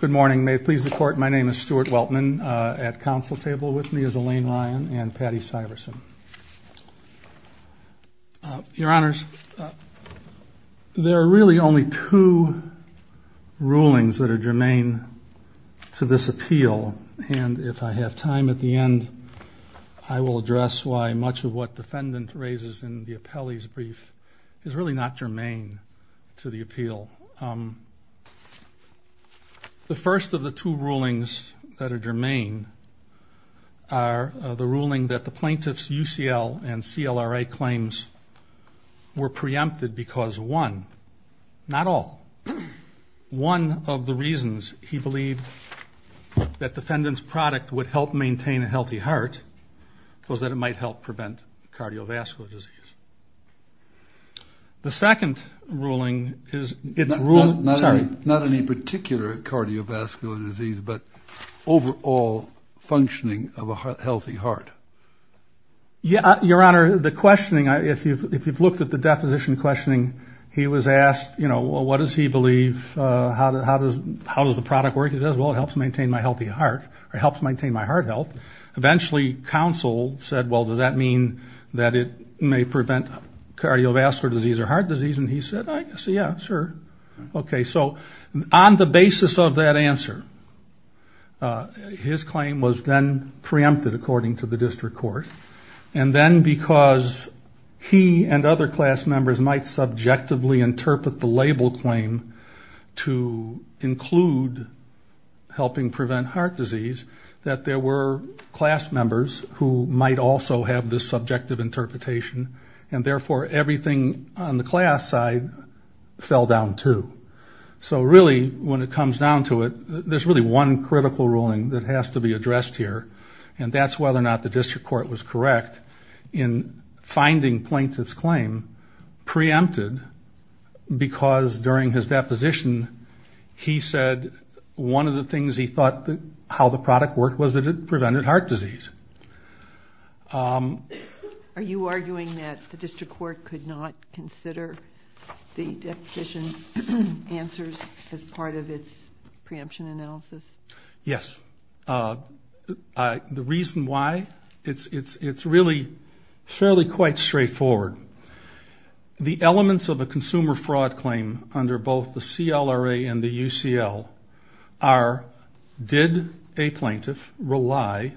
Good morning. May it please the Court, my name is Stuart Weltman. At counsel table with me is Elaine Ryan and Patty Syverson. Your Honors, there are really only two rulings that are germane to this appeal. And if I have time at the end, I will address why much of what defendant raises in the appellee's brief is really not germane to the appeal. The first of the two rulings that are germane are the ruling that the plaintiff's UCL and CLRA claims were preempted because, one, not all. One of the reasons he believed that defendant's product would help maintain a healthy heart was that it might help prevent cardiovascular disease. The second ruling is... Not any particular cardiovascular disease, but overall functioning of a healthy heart. Your Honor, the questioning, if you've looked at the deposition questioning, he was asked, you know, what does he believe, how does the product work, and he said, well, it helps maintain my healthy heart, or helps maintain my heart health. Eventually, counsel said, well, does that mean that it may prevent cardiovascular disease or heart disease, and he said, I guess, yeah, sure. Okay, so on the basis of that answer, his claim was then preempted according to the District Court. And then because he and other class members might subjectively interpret the label claim to include helping prevent heart disease, that there were class members who might also have this subjective interpretation, and therefore everything on the class side fell down, too. So really, when it comes down to it, there's really one critical ruling that has to be addressed here, and that's whether or not the District Court was correct in finding Plaintiff's claim preempted because during his deposition, he said one of the things he thought how the product worked was that it prevented heart disease. Are you arguing that the District Court could not consider the deposition's answers as part of its preemption analysis? Yes. The reason why, it's really fairly quite straightforward. The elements of a consumer fraud claim under both the CLRA and the UCL are, did a plaintiff rely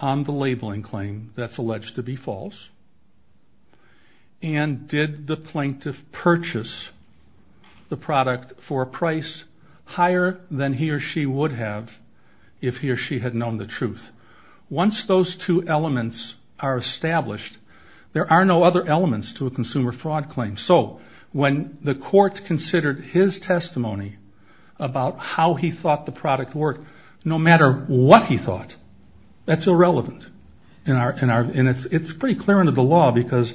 on the labeling claim that's alleged to be false, and did the plaintiff purchase the product for a price higher than he or she would have if he or she had known the truth? Once those two elements are established, there are no other elements to a consumer fraud claim. So when the court considered his testimony about how he thought the product worked, no matter what he thought, that's irrelevant. And it's pretty clear under the law because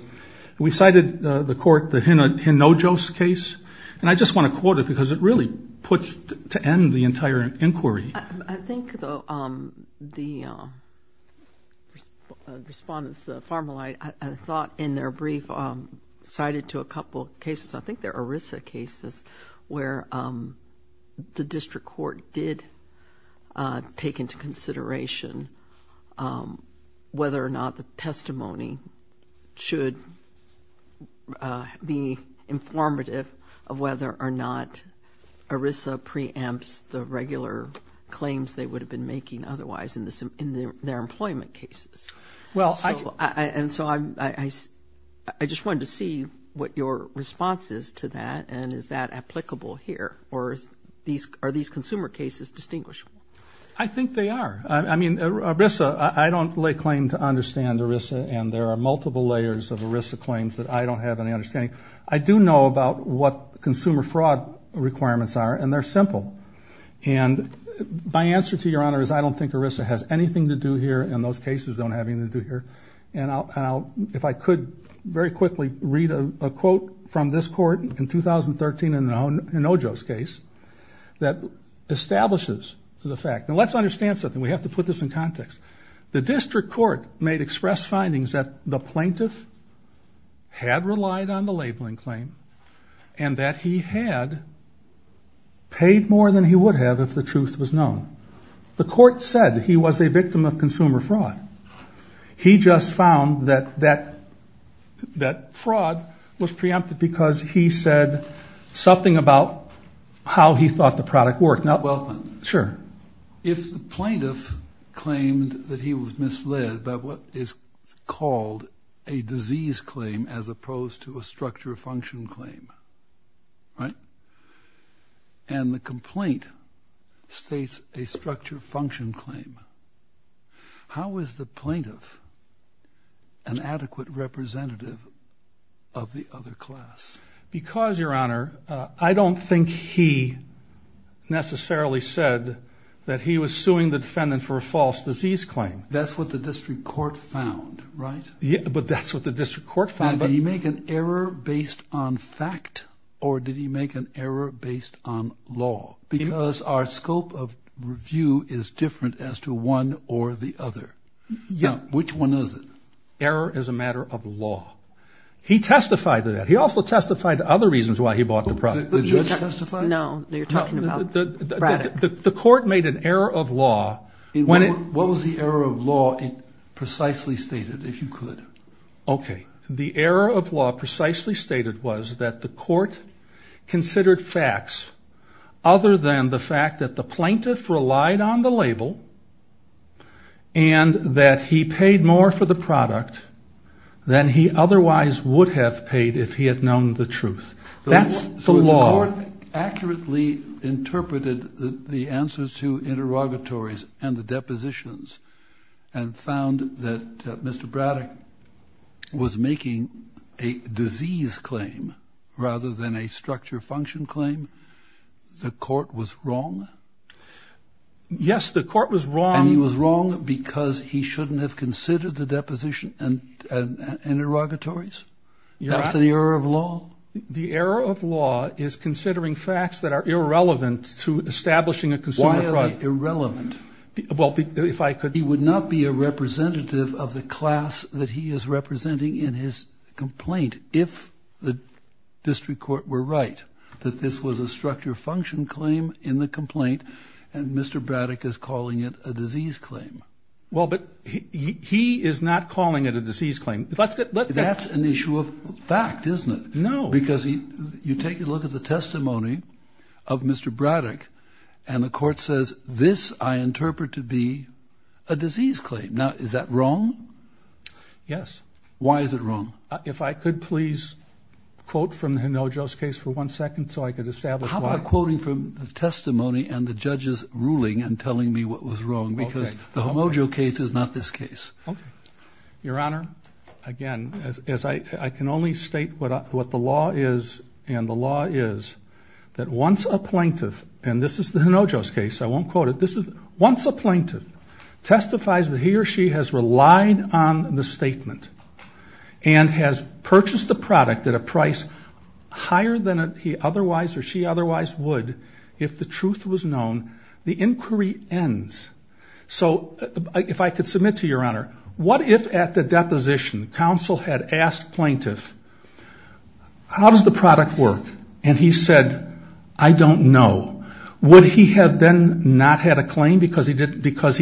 we cited the court, the Hinojos case, and I just want to quote it because it really puts to end the entire inquiry. I think the respondents, the formal, I thought in their brief cited to a couple of cases, I think they're ERISA cases where the District Court did take into consideration whether or not the testimony should be informative of whether or not ERISA preempts the regular claims they would have been making otherwise in their employment cases. And so I just wanted to see what your response is to that and is that applicable here? Or are these consumer cases distinguishable? I think they are. I mean, ERISA, I don't lay claim to understand ERISA, and there are multiple layers of ERISA claims that I don't have any understanding. I do know about what consumer fraud requirements are, and they're simple. And my answer to your honor is I don't think ERISA has anything to do here and those cases don't have anything to do here. And if I could very quickly read a quote from this court in 2013 in the Hinojos case that establishes the fact. And let's understand something. We have to put this in context. The District Court made express findings that the plaintiff had relied on the labeling claim and that he had paid more than he would have if the truth was known. The court said he was a victim of consumer fraud. He just found that fraud was preempted because he said something about how he thought the product worked. If the plaintiff claimed that he was misled by what is called a disease claim as opposed to a structure function claim, and the complaint states a structure function claim, how is the plaintiff an adequate representative of the other class? Because your honor, I don't think he necessarily said that he was suing the defendant for a false disease claim. That's what the District Court found, right? Yeah, but that's what the District Court found. Did he make an error based on fact or did he make an error based on law? Because our scope of review is different as to one or the other. Yeah. Which one is it? Error is a matter of law. He testified to that. He also testified to other reasons why he bought the product. Did the judge testify? No, you're talking about Braddock. The court made an error of law. What was the error of law precisely stated, if you could? Okay. The error of law precisely stated was that the court considered facts other than the fact that the plaintiff relied on the label and that he paid more for the product than he otherwise would have paid if he had known the truth. That's the law. So the court accurately interpreted the answers to interrogatories and the depositions and found that Mr. Braddock was making a disease claim rather than a structure function claim? The court was wrong? Yes, the court was wrong. And he was wrong because he shouldn't have considered the deposition and interrogatories? That's an error of law? The error of law is considering facts that are irrelevant to establishing a consumer product. Why are they irrelevant? Well, if I could. He would not be a representative of the class that he is representing in his complaint if the district court were right that this was a structure function claim in the complaint and Mr. Braddock is calling it a disease claim. Well, but he is not calling it a disease claim. That's an issue of fact, isn't it? No. Because you take a look at the testimony of Mr. Braddock and the court says, this I interpret to be a disease claim. Now, is that wrong? Yes. Why is it wrong? If I could please quote from Hinojo's case for one second so I could establish why. How about quoting from the testimony and the judge's ruling and telling me what was wrong because the Hinojo case is not this case. Okay. Your Honor, again, I can only state what the law is, and the law is that once a plaintiff, and this is the Hinojo's case, I won't quote it. Once a plaintiff testifies that he or she has relied on the statement and has purchased the product at a price higher than he otherwise or she otherwise would if the truth was known, the inquiry ends. So if I could submit to you, Your Honor, what if at the deposition counsel had asked plaintiff, how does the product work? And he said, I don't know. Would he have then not had a claim because he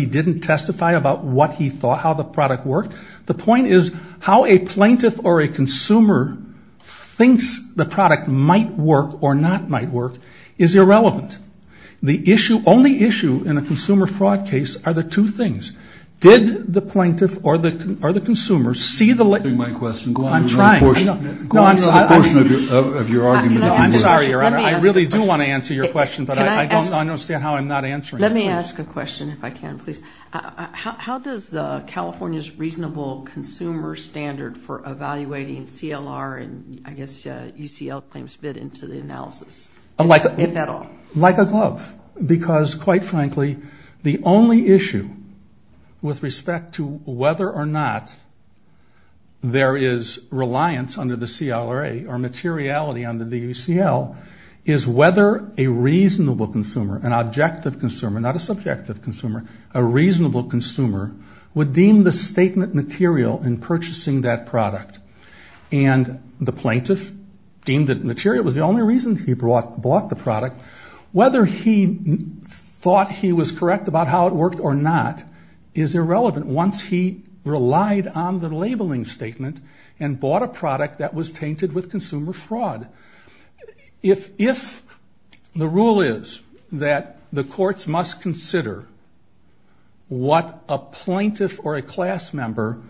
didn't testify about what he thought, how the product worked? The point is how a plaintiff or a consumer thinks the product might work or not might work is irrelevant. The issue, only issue in a consumer fraud case are the two things. Did the plaintiff or the consumer see the light? I'm trying. Go on to the portion of your argument. I'm sorry, Your Honor. I really do want to answer your question, but I don't understand how I'm not answering it. Let me ask a question if I can, please. How does California's reasonable consumer standard for evaluating CLR and I guess UCL claims fit into the analysis, if at all? Like a glove because, quite frankly, the only issue with respect to whether or not there is reliance under the CLRA or materiality under the UCL is whether a reasonable consumer, an objective consumer, not a subjective consumer, a reasonable consumer would deem the statement material in purchasing that product. And the plaintiff deemed that material was the only reason he bought the product. Whether he thought he was correct about how it worked or not is irrelevant once he relied on the labeling statement and bought a product that was tainted with consumer fraud. If the rule is that the courts must consider what a plaintiff or a class member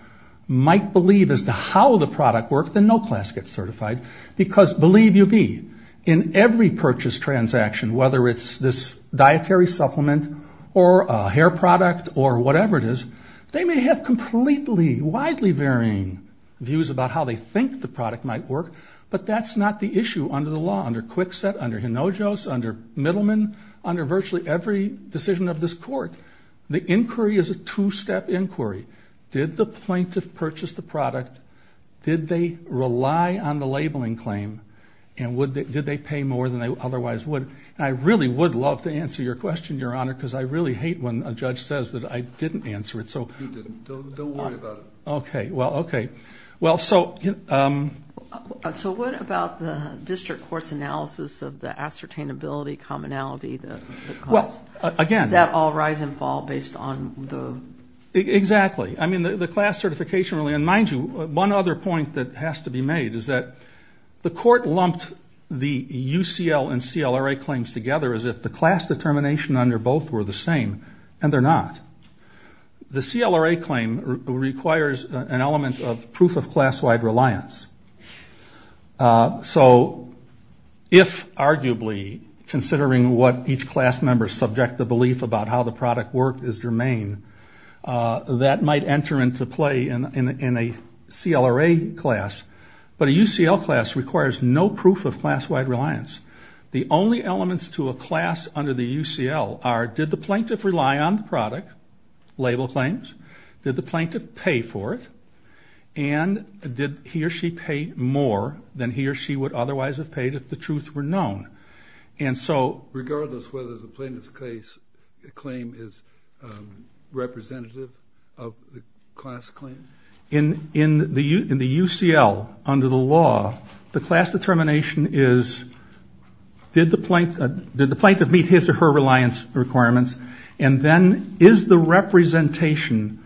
might believe as to how the product worked, then no class gets certified because believe you me, in every purchase transaction, whether it's this dietary supplement or a hair product or whatever it is, they may have completely, widely varying views about how they think the product might work, but that's not the issue under the law, under Kwikset, under Hinojos, under Middleman, under virtually every decision of this court. The inquiry is a two-step inquiry. Did the plaintiff purchase the product? Did they rely on the labeling claim? And did they pay more than they otherwise would? And I really would love to answer your question, Your Honor, because I really hate when a judge says that I didn't answer it. You didn't. Don't worry about it. Okay. Well, okay. Well, so... So what about the district court's analysis of the ascertainability, commonality of the class? Well, again... Does that all rise and fall based on the... Exactly. I mean, the class certification really, and mind you, one other point that has to be made is that the court lumped the UCL and CLRA claims together as if the class determination under both were the same, and they're not. The CLRA claim requires an element of proof of class-wide reliance. So if, arguably, considering what each class member's subjective belief about how the product worked is germane, that might enter into play in a CLRA class. But a UCL class requires no proof of class-wide reliance. The only elements to a class under the UCL are did the plaintiff rely on the product, label claims, did the plaintiff pay for it, and did he or she pay more than he or she would otherwise have paid if the truths were known. And so... Regardless whether the plaintiff's claim is representative of the class claim? In the UCL, under the law, the class determination is did the plaintiff meet his or her reliance requirements, and then is the representation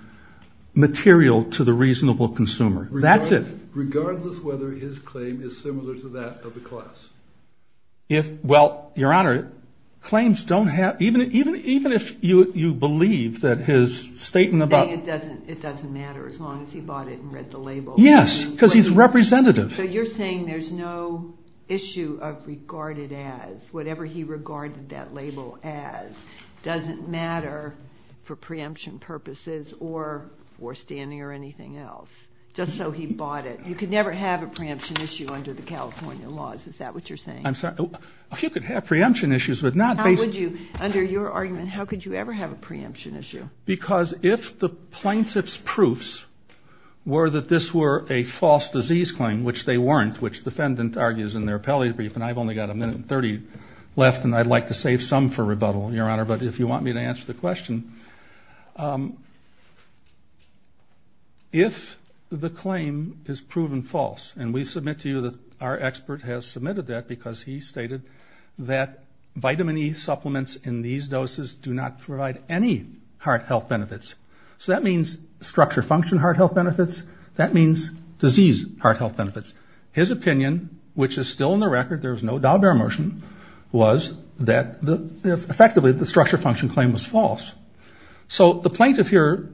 material to the reasonable consumer? That's it. Regardless whether his claim is similar to that of the class? Well, Your Honor, claims don't have... Even if you believe that his statement about... It doesn't matter as long as he bought it and read the label. Yes, because he's representative. So you're saying there's no issue of regarded as, whatever he regarded that label as, doesn't matter for preemption purposes or standing or anything else, just so he bought it. You could never have a preemption issue under the California laws. Is that what you're saying? I'm sorry. You could have preemption issues, but not based... Under your argument, how could you ever have a preemption issue? Because if the plaintiff's proofs were that this were a false disease claim, which they weren't, which the defendant argues in their appellate brief, and I've only got a minute and 30 left, and I'd like to save some for rebuttal, Your Honor, but if you want me to answer the question, if the claim is proven false, and we submit to you that our expert has submitted that because he stated that vitamin E supplements in these doses do not provide any heart health benefits. So that means structured function heart health benefits. That means disease heart health benefits. His opinion, which is still in the record, there's no doubt in our motion, So the plaintiff here,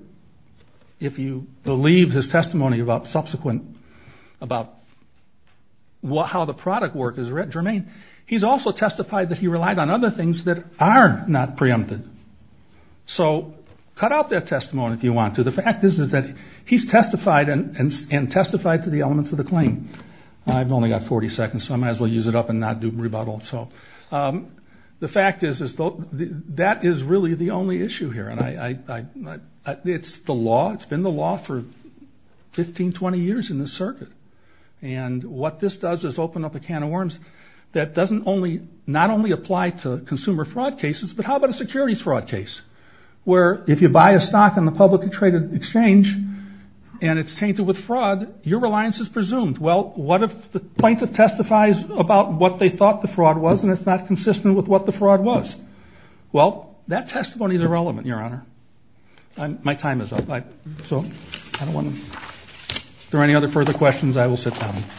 if you believe his testimony about subsequent, about how the product work is germane, he's also testified that he relied on other things that are not preempted. So cut out that testimony if you want to. The fact is that he's testified and testified to the elements of the claim. I've only got 40 seconds, so I might as well use it up and not do rebuttal. So the fact is that that is really the only issue here, and it's the law. It's been the law for 15, 20 years in this circuit, and what this does is open up a can of worms that doesn't only, not only apply to consumer fraud cases, but how about a securities fraud case where if you buy a stock in the publicly traded exchange and it's tainted with fraud, your reliance is presumed. Well, what if the plaintiff testifies about what they thought the fraud was and it's not consistent with what the fraud was? Well, that testimony is irrelevant, Your Honor. My time is up. If there are any other further questions, I will sit down. Thank you.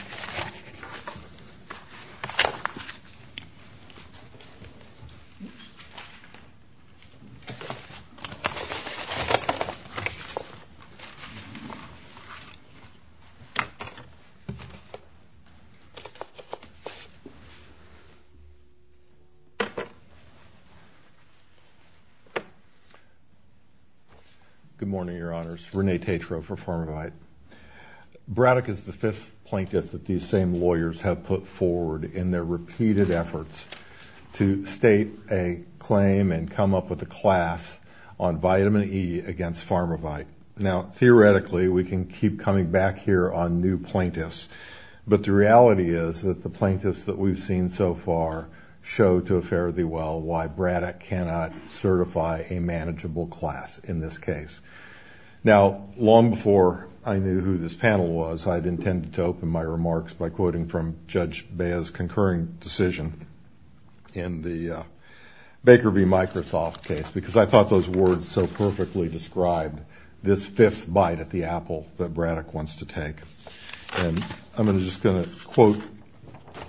Good morning, Your Honors. Rene Tetreault for Pharmavide. Braddock is the fifth plaintiff that these same lawyers have put forward in their repeated efforts to state a claim and come up with a class on vitamin E against Pharmavide. Now, theoretically, we can keep coming back here on new plaintiffs, but the reality is that the plaintiffs that we've seen so far show to a fair of the well why Braddock cannot certify a manageable class in this case. Now, long before I knew who this panel was, I had intended to open my remarks by quoting from Judge Bea's concurring decision in the Baker v. Microsoft case because I thought those words so perfectly described this fifth bite at the apple that Braddock wants to take. And I'm just going to quote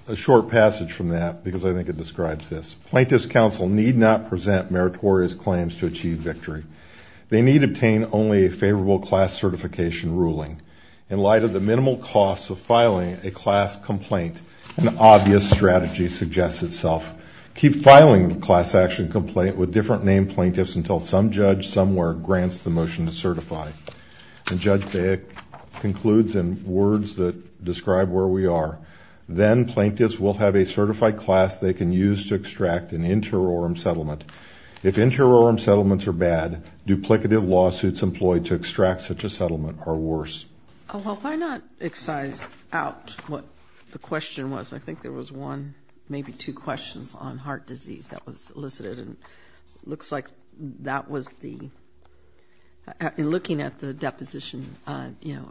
a short passage from that because I think it describes this. Plaintiffs' counsel need not present meritorious claims to achieve victory. They need obtain only a favorable class certification ruling. In light of the minimal cost of filing a class complaint, an obvious strategy suggests itself. Keep filing the class action complaint with different named plaintiffs until some judge somewhere grants the motion to certify. And Judge Bea concludes in words that describe where we are. Then plaintiffs will have a certified class they can use to extract an interorum settlement. If interorum settlements are bad, duplicative lawsuits employed to extract such a settlement are worse. Well, why not excise out what the question was? I think there was one, maybe two questions on heart disease that was elicited. And it looks like that was the looking at the deposition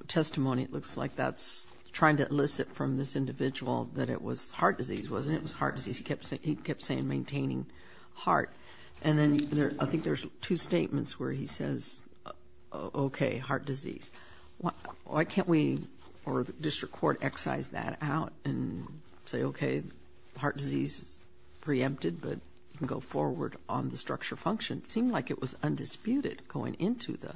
testimony, it looks like that's trying to elicit from this individual that it was heart disease, wasn't it? It was heart disease. He kept saying maintaining heart. And then I think there's two statements where he says, okay, heart disease. Why can't we or the district court excise that out and say, okay, heart disease is preempted, but you can go forward on the structure function? It seemed like it was undisputed going into the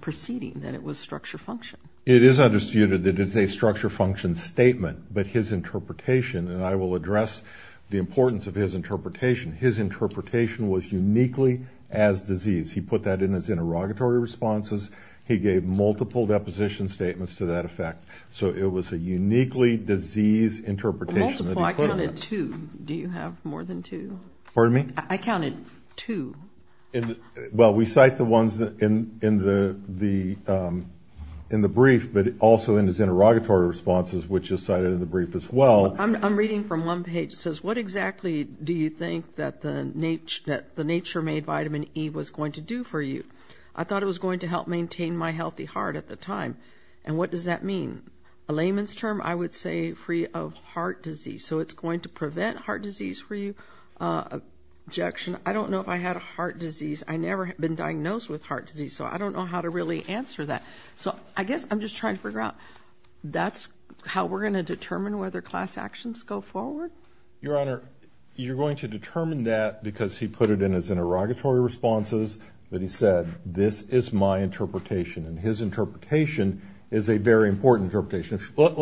proceeding that it was structure function. It is undisputed that it's a structure function statement. But his interpretation, and I will address the importance of his interpretation, his interpretation was uniquely as disease. He put that in his interrogatory responses. He gave multiple deposition statements to that effect. So it was a uniquely disease interpretation. Multiple? I counted two. Do you have more than two? Pardon me? I counted two. Well, we cite the ones in the brief, but also in his interrogatory responses, which is cited in the brief as well. I'm reading from one page. It says, what exactly do you think that the nature-made vitamin E was going to do for you? I thought it was going to help maintain my healthy heart at the time. And what does that mean? A layman's term, I would say free of heart disease. So it's going to prevent heart disease for you? Objection. I don't know if I had heart disease. I never have been diagnosed with heart disease, so I don't know how to really answer that. So I guess I'm just trying to figure out that's how we're going to determine whether class actions go forward? Your Honor, you're going to determine that because he put it in his interrogatory responses that he said, this is my interpretation. And his interpretation is a very important interpretation. Take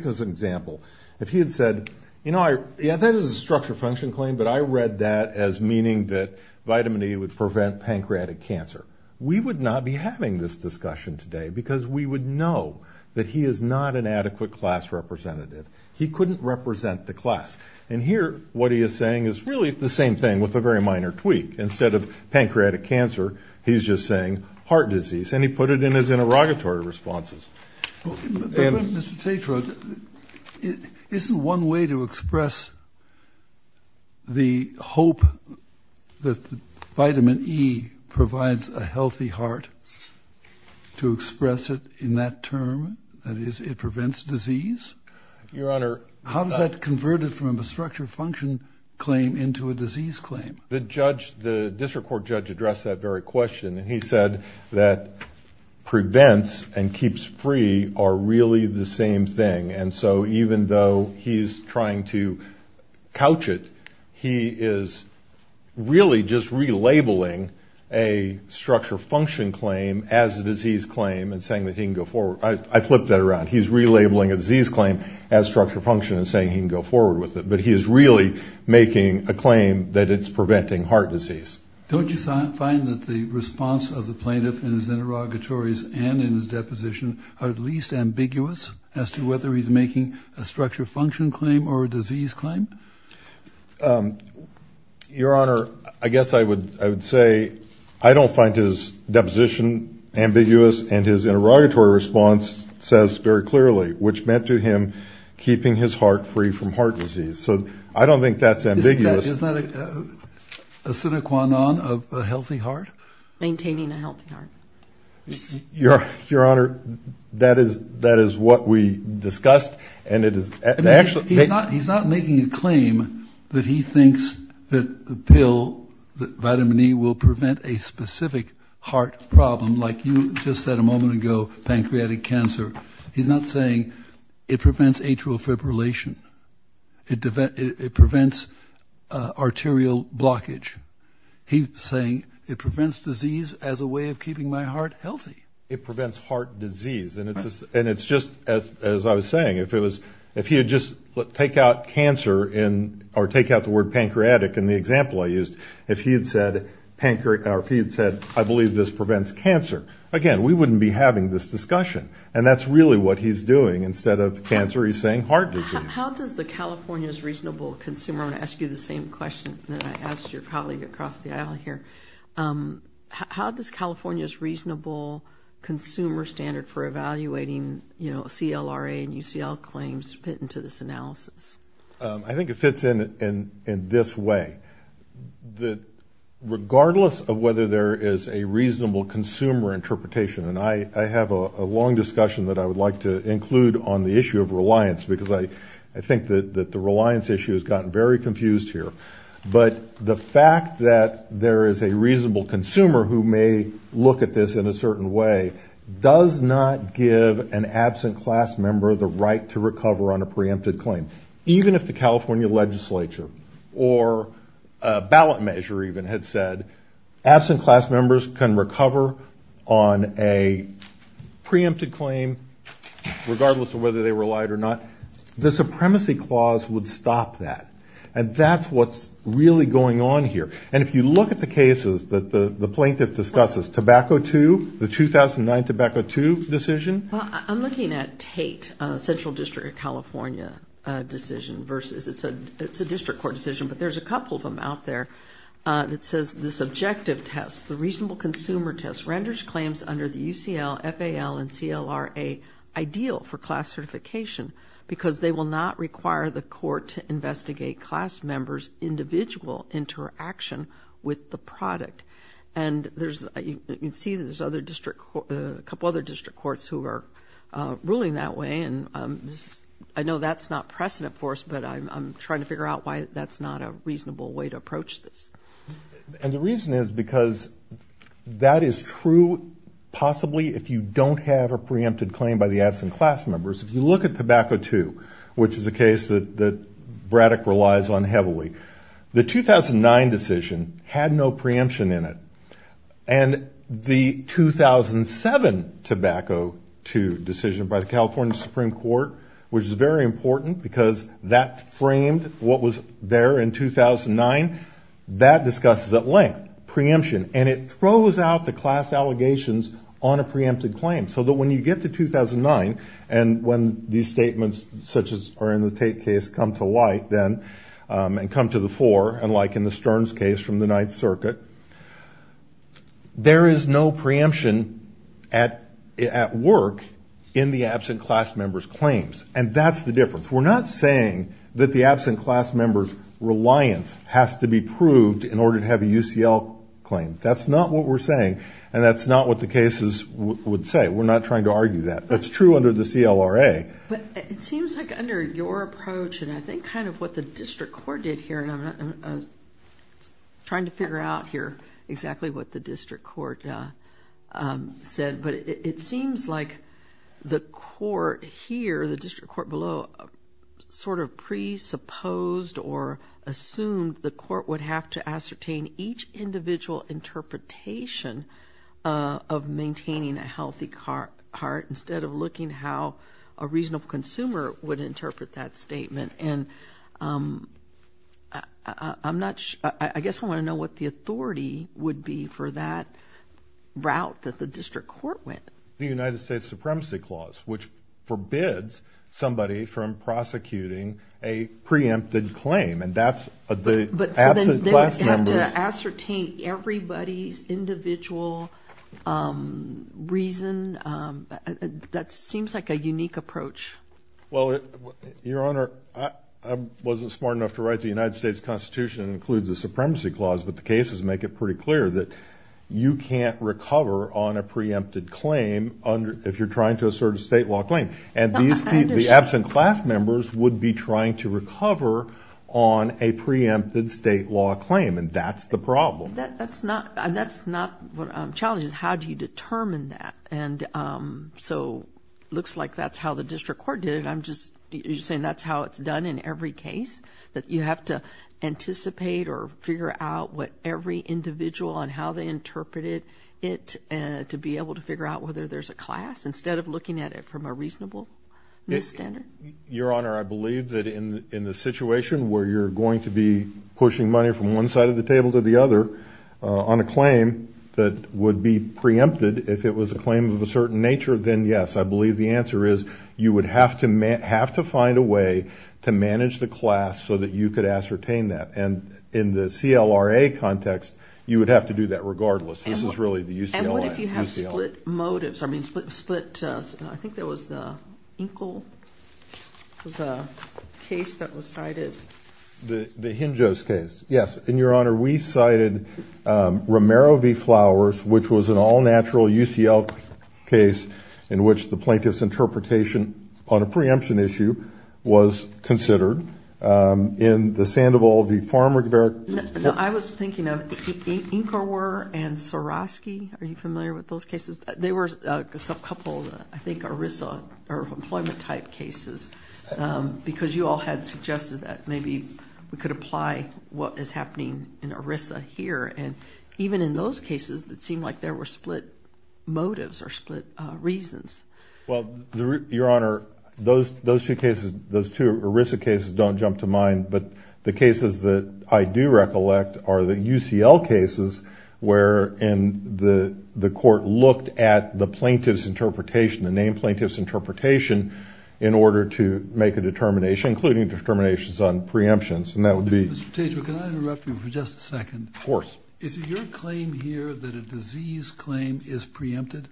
this as an example. If he had said, you know, yeah, that is a structure function claim, but I read that as meaning that vitamin E would prevent pancreatic cancer. We would not be having this discussion today because we would know that he is not an adequate class representative. He couldn't represent the class. And here what he is saying is really the same thing with a very minor tweak. Instead of pancreatic cancer, he's just saying heart disease, and he put it in his interrogatory responses. Mr. Tatro, isn't one way to express the hope that vitamin E provides a healthy heart to express it in that term? That is, it prevents disease? Your Honor. How does that convert it from a structure function claim into a disease claim? The judge, the district court judge addressed that very question, and he said that prevents and keeps free are really the same thing. And so even though he's trying to couch it, he is really just relabeling a structure function claim as a disease claim and saying that he can go forward. I flipped that around. He's relabeling a disease claim as structure function and saying he can go forward with it. But he is really making a claim that it's preventing heart disease. Don't you find that the response of the plaintiff in his interrogatories and in his deposition are at least ambiguous as to whether he's making a structure function claim or a disease claim? Your Honor, I guess I would say I don't find his deposition ambiguous, and his interrogatory response says very clearly, which meant to him keeping his heart free from heart disease. So I don't think that's ambiguous. Is that a sine qua non of a healthy heart? Maintaining a healthy heart. Your Honor, that is what we discussed. He's not making a claim that he thinks that the pill, that vitamin E will prevent a specific heart problem like you just said a moment ago, pancreatic cancer. He's not saying it prevents atrial fibrillation. It prevents arterial blockage. He's saying it prevents disease as a way of keeping my heart healthy. It prevents heart disease, and it's just, as I was saying, if he had just take out cancer or take out the word pancreatic in the example I used, if he had said I believe this prevents cancer, again, we wouldn't be having this discussion. And that's really what he's doing. Instead of cancer, he's saying heart disease. How does the California's Reasonable Consumer, I'm going to ask you the same question that I asked your colleague across the aisle here, how does California's Reasonable Consumer Standard for evaluating, you know, CLRA and UCL claims fit into this analysis? I think it fits in this way. Regardless of whether there is a reasonable consumer interpretation, and I have a long discussion that I would like to include on the issue of reliance, because I think that the reliance issue has gotten very confused here. But the fact that there is a reasonable consumer who may look at this in a certain way does not give an absent class member the right to recover on a preempted claim. Even if the California legislature or a ballot measure even had said, absent class members can recover on a preempted claim regardless of whether they relied or not, the supremacy clause would stop that. And that's what's really going on here. And if you look at the cases that the plaintiff discusses, Tobacco II, the 2009 Tobacco II decision. I'm looking at Tate, Central District of California decision versus, it's a district court decision, but there's a couple of them out there that says the subjective test, the reasonable consumer test, renders claims under the UCL, FAL, and CLRA ideal for class certification because they will not require the court to investigate class members' individual interaction with the product. And you can see that there's a couple other district courts who are ruling that way, and I know that's not precedent for us, but I'm trying to figure out why that's not a reasonable way to approach this. And the reason is because that is true, possibly, if you don't have a preempted claim by the absent class members. If you look at Tobacco II, which is a case that Braddock relies on heavily, the 2009 decision had no preemption in it, and the 2007 Tobacco II decision by the California Supreme Court, which is very important because that framed what was there in 2009, that discusses at length preemption, and it throws out the class allegations on a preempted claim, so that when you get to 2009, and when these statements, such as are in the Tate case, come to light then and come to the fore, and like in the Stearns case from the Ninth Circuit, there is no preemption at work in the absent class members' claims, and that's the difference. We're not saying that the absent class members' reliance has to be proved in order to have a UCL claim. That's not what we're saying, and that's not what the cases would say. We're not trying to argue that. That's true under the CLRA. But it seems like under your approach, and I think kind of what the district court did here, and I'm trying to figure out here exactly what the district court said, but it seems like the court here, the district court below, sort of presupposed or assumed the court would have to ascertain each individual interpretation of maintaining a healthy heart instead of looking how a reasonable consumer would interpret that statement. And I guess I want to know what the authority would be for that route that the district court went. The United States Supremacy Clause, which forbids somebody from prosecuting a preempted claim, and that's the absent class members. So they would have to ascertain everybody's individual reason. That seems like a unique approach. Well, Your Honor, I wasn't smart enough to write the United States Constitution that includes the Supremacy Clause, but the cases make it pretty clear that you can't recover on a preempted claim if you're trying to assert a state law claim. And the absent class members would be trying to recover on a preempted state law claim, and that's the problem. That's not what challenges. How do you determine that? So it looks like that's how the district court did it. Are you saying that's how it's done in every case, that you have to anticipate or figure out what every individual and how they interpreted it to be able to figure out whether there's a class instead of looking at it from a reasonable standard? Your Honor, I believe that in the situation where you're going to be pushing money from one side of the table to the other on a claim that would be preempted if it was a claim of a certain nature, then yes. I believe the answer is you would have to find a way to manage the class so that you could ascertain that. And in the CLRA context, you would have to do that regardless. This is really the UCLA. And what if you have split motives? I mean split, I think that was the Inkle case that was cited. The Hinjos case, yes. And, Your Honor, we cited Romero v. Flowers, which was an all-natural UCL case in which the plaintiff's interpretation on a preemption issue was considered. In the Sandoval v. Farmer. No, I was thinking of Inkerwer and Soroski. Are you familiar with those cases? They were a subcouple, I think, ERISA or employment-type cases because you all had suggested that maybe we could apply what is happening in ERISA here. And even in those cases, it seemed like there were split motives or split reasons. Well, Your Honor, those two ERISA cases don't jump to mind. But the cases that I do recollect are the UCL cases where the court looked at the plaintiff's interpretation, the named plaintiff's interpretation in order to make a determination, including determinations on preemptions, and that would be. Mr. Tatro, can I interrupt you for just a second? Of course. Is it your claim here that a disease claim is preempted?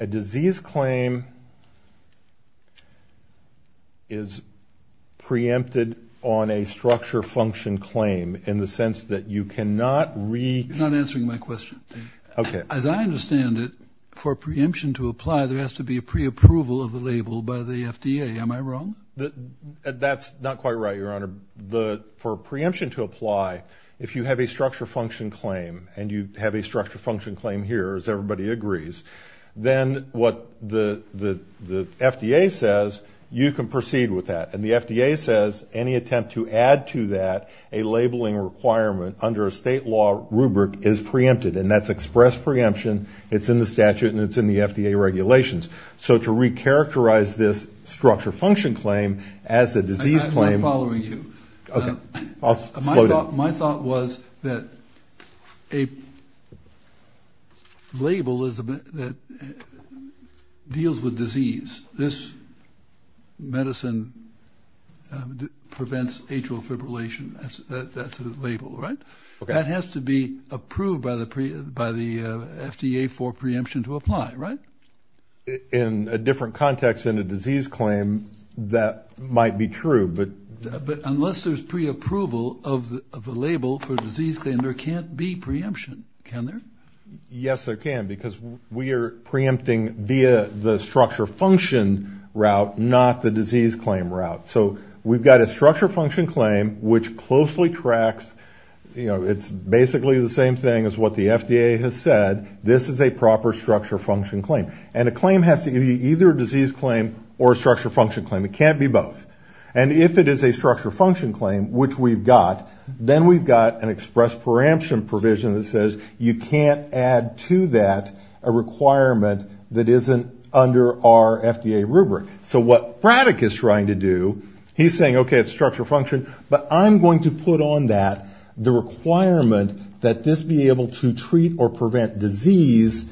A disease claim is preempted on a structure function claim in the sense that you cannot re- You're not answering my question. Okay. As I understand it, for a preemption to apply, there has to be a preapproval of the label by the FDA. Am I wrong? That's not quite right, Your Honor. For a preemption to apply, if you have a structure function claim, and you have a structure function claim here, as everybody agrees, then what the FDA says, you can proceed with that. And the FDA says any attempt to add to that a labeling requirement under a state law rubric is preempted, and that's express preemption, it's in the statute, and it's in the FDA regulations. So to re-characterize this structure function claim as a disease claim- I'm not following you. Okay. I'll slow down. My thought was that a label that deals with disease, this medicine prevents atrial fibrillation, that's a label, right? Okay. That has to be approved by the FDA for preemption to apply, right? In a different context than a disease claim, that might be true, but- But unless there's preapproval of the label for a disease claim, there can't be preemption, can there? Yes, there can, because we are preempting via the structure function route, not the disease claim route. So we've got a structure function claim which closely tracks, you know, it's basically the same thing as what the FDA has said, this is a proper structure function claim. And a claim has to be either a disease claim or a structure function claim, it can't be both. And if it is a structure function claim, which we've got, then we've got an express preemption provision that says you can't add to that a requirement that isn't under our FDA rubric. So what Braddock is trying to do, he's saying, okay, it's structure function, but I'm going to put on that the requirement that this be able to treat or prevent disease,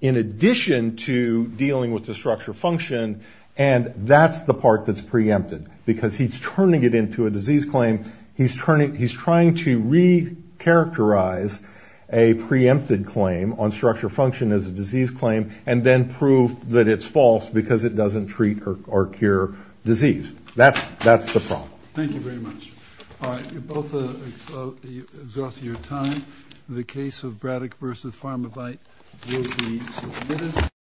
in addition to dealing with the structure function, and that's the part that's preempted. Because he's turning it into a disease claim, he's trying to re-characterize a preempted claim on structure function as a disease claim, and then prove that it's false because it doesn't treat or cure disease. That's the problem.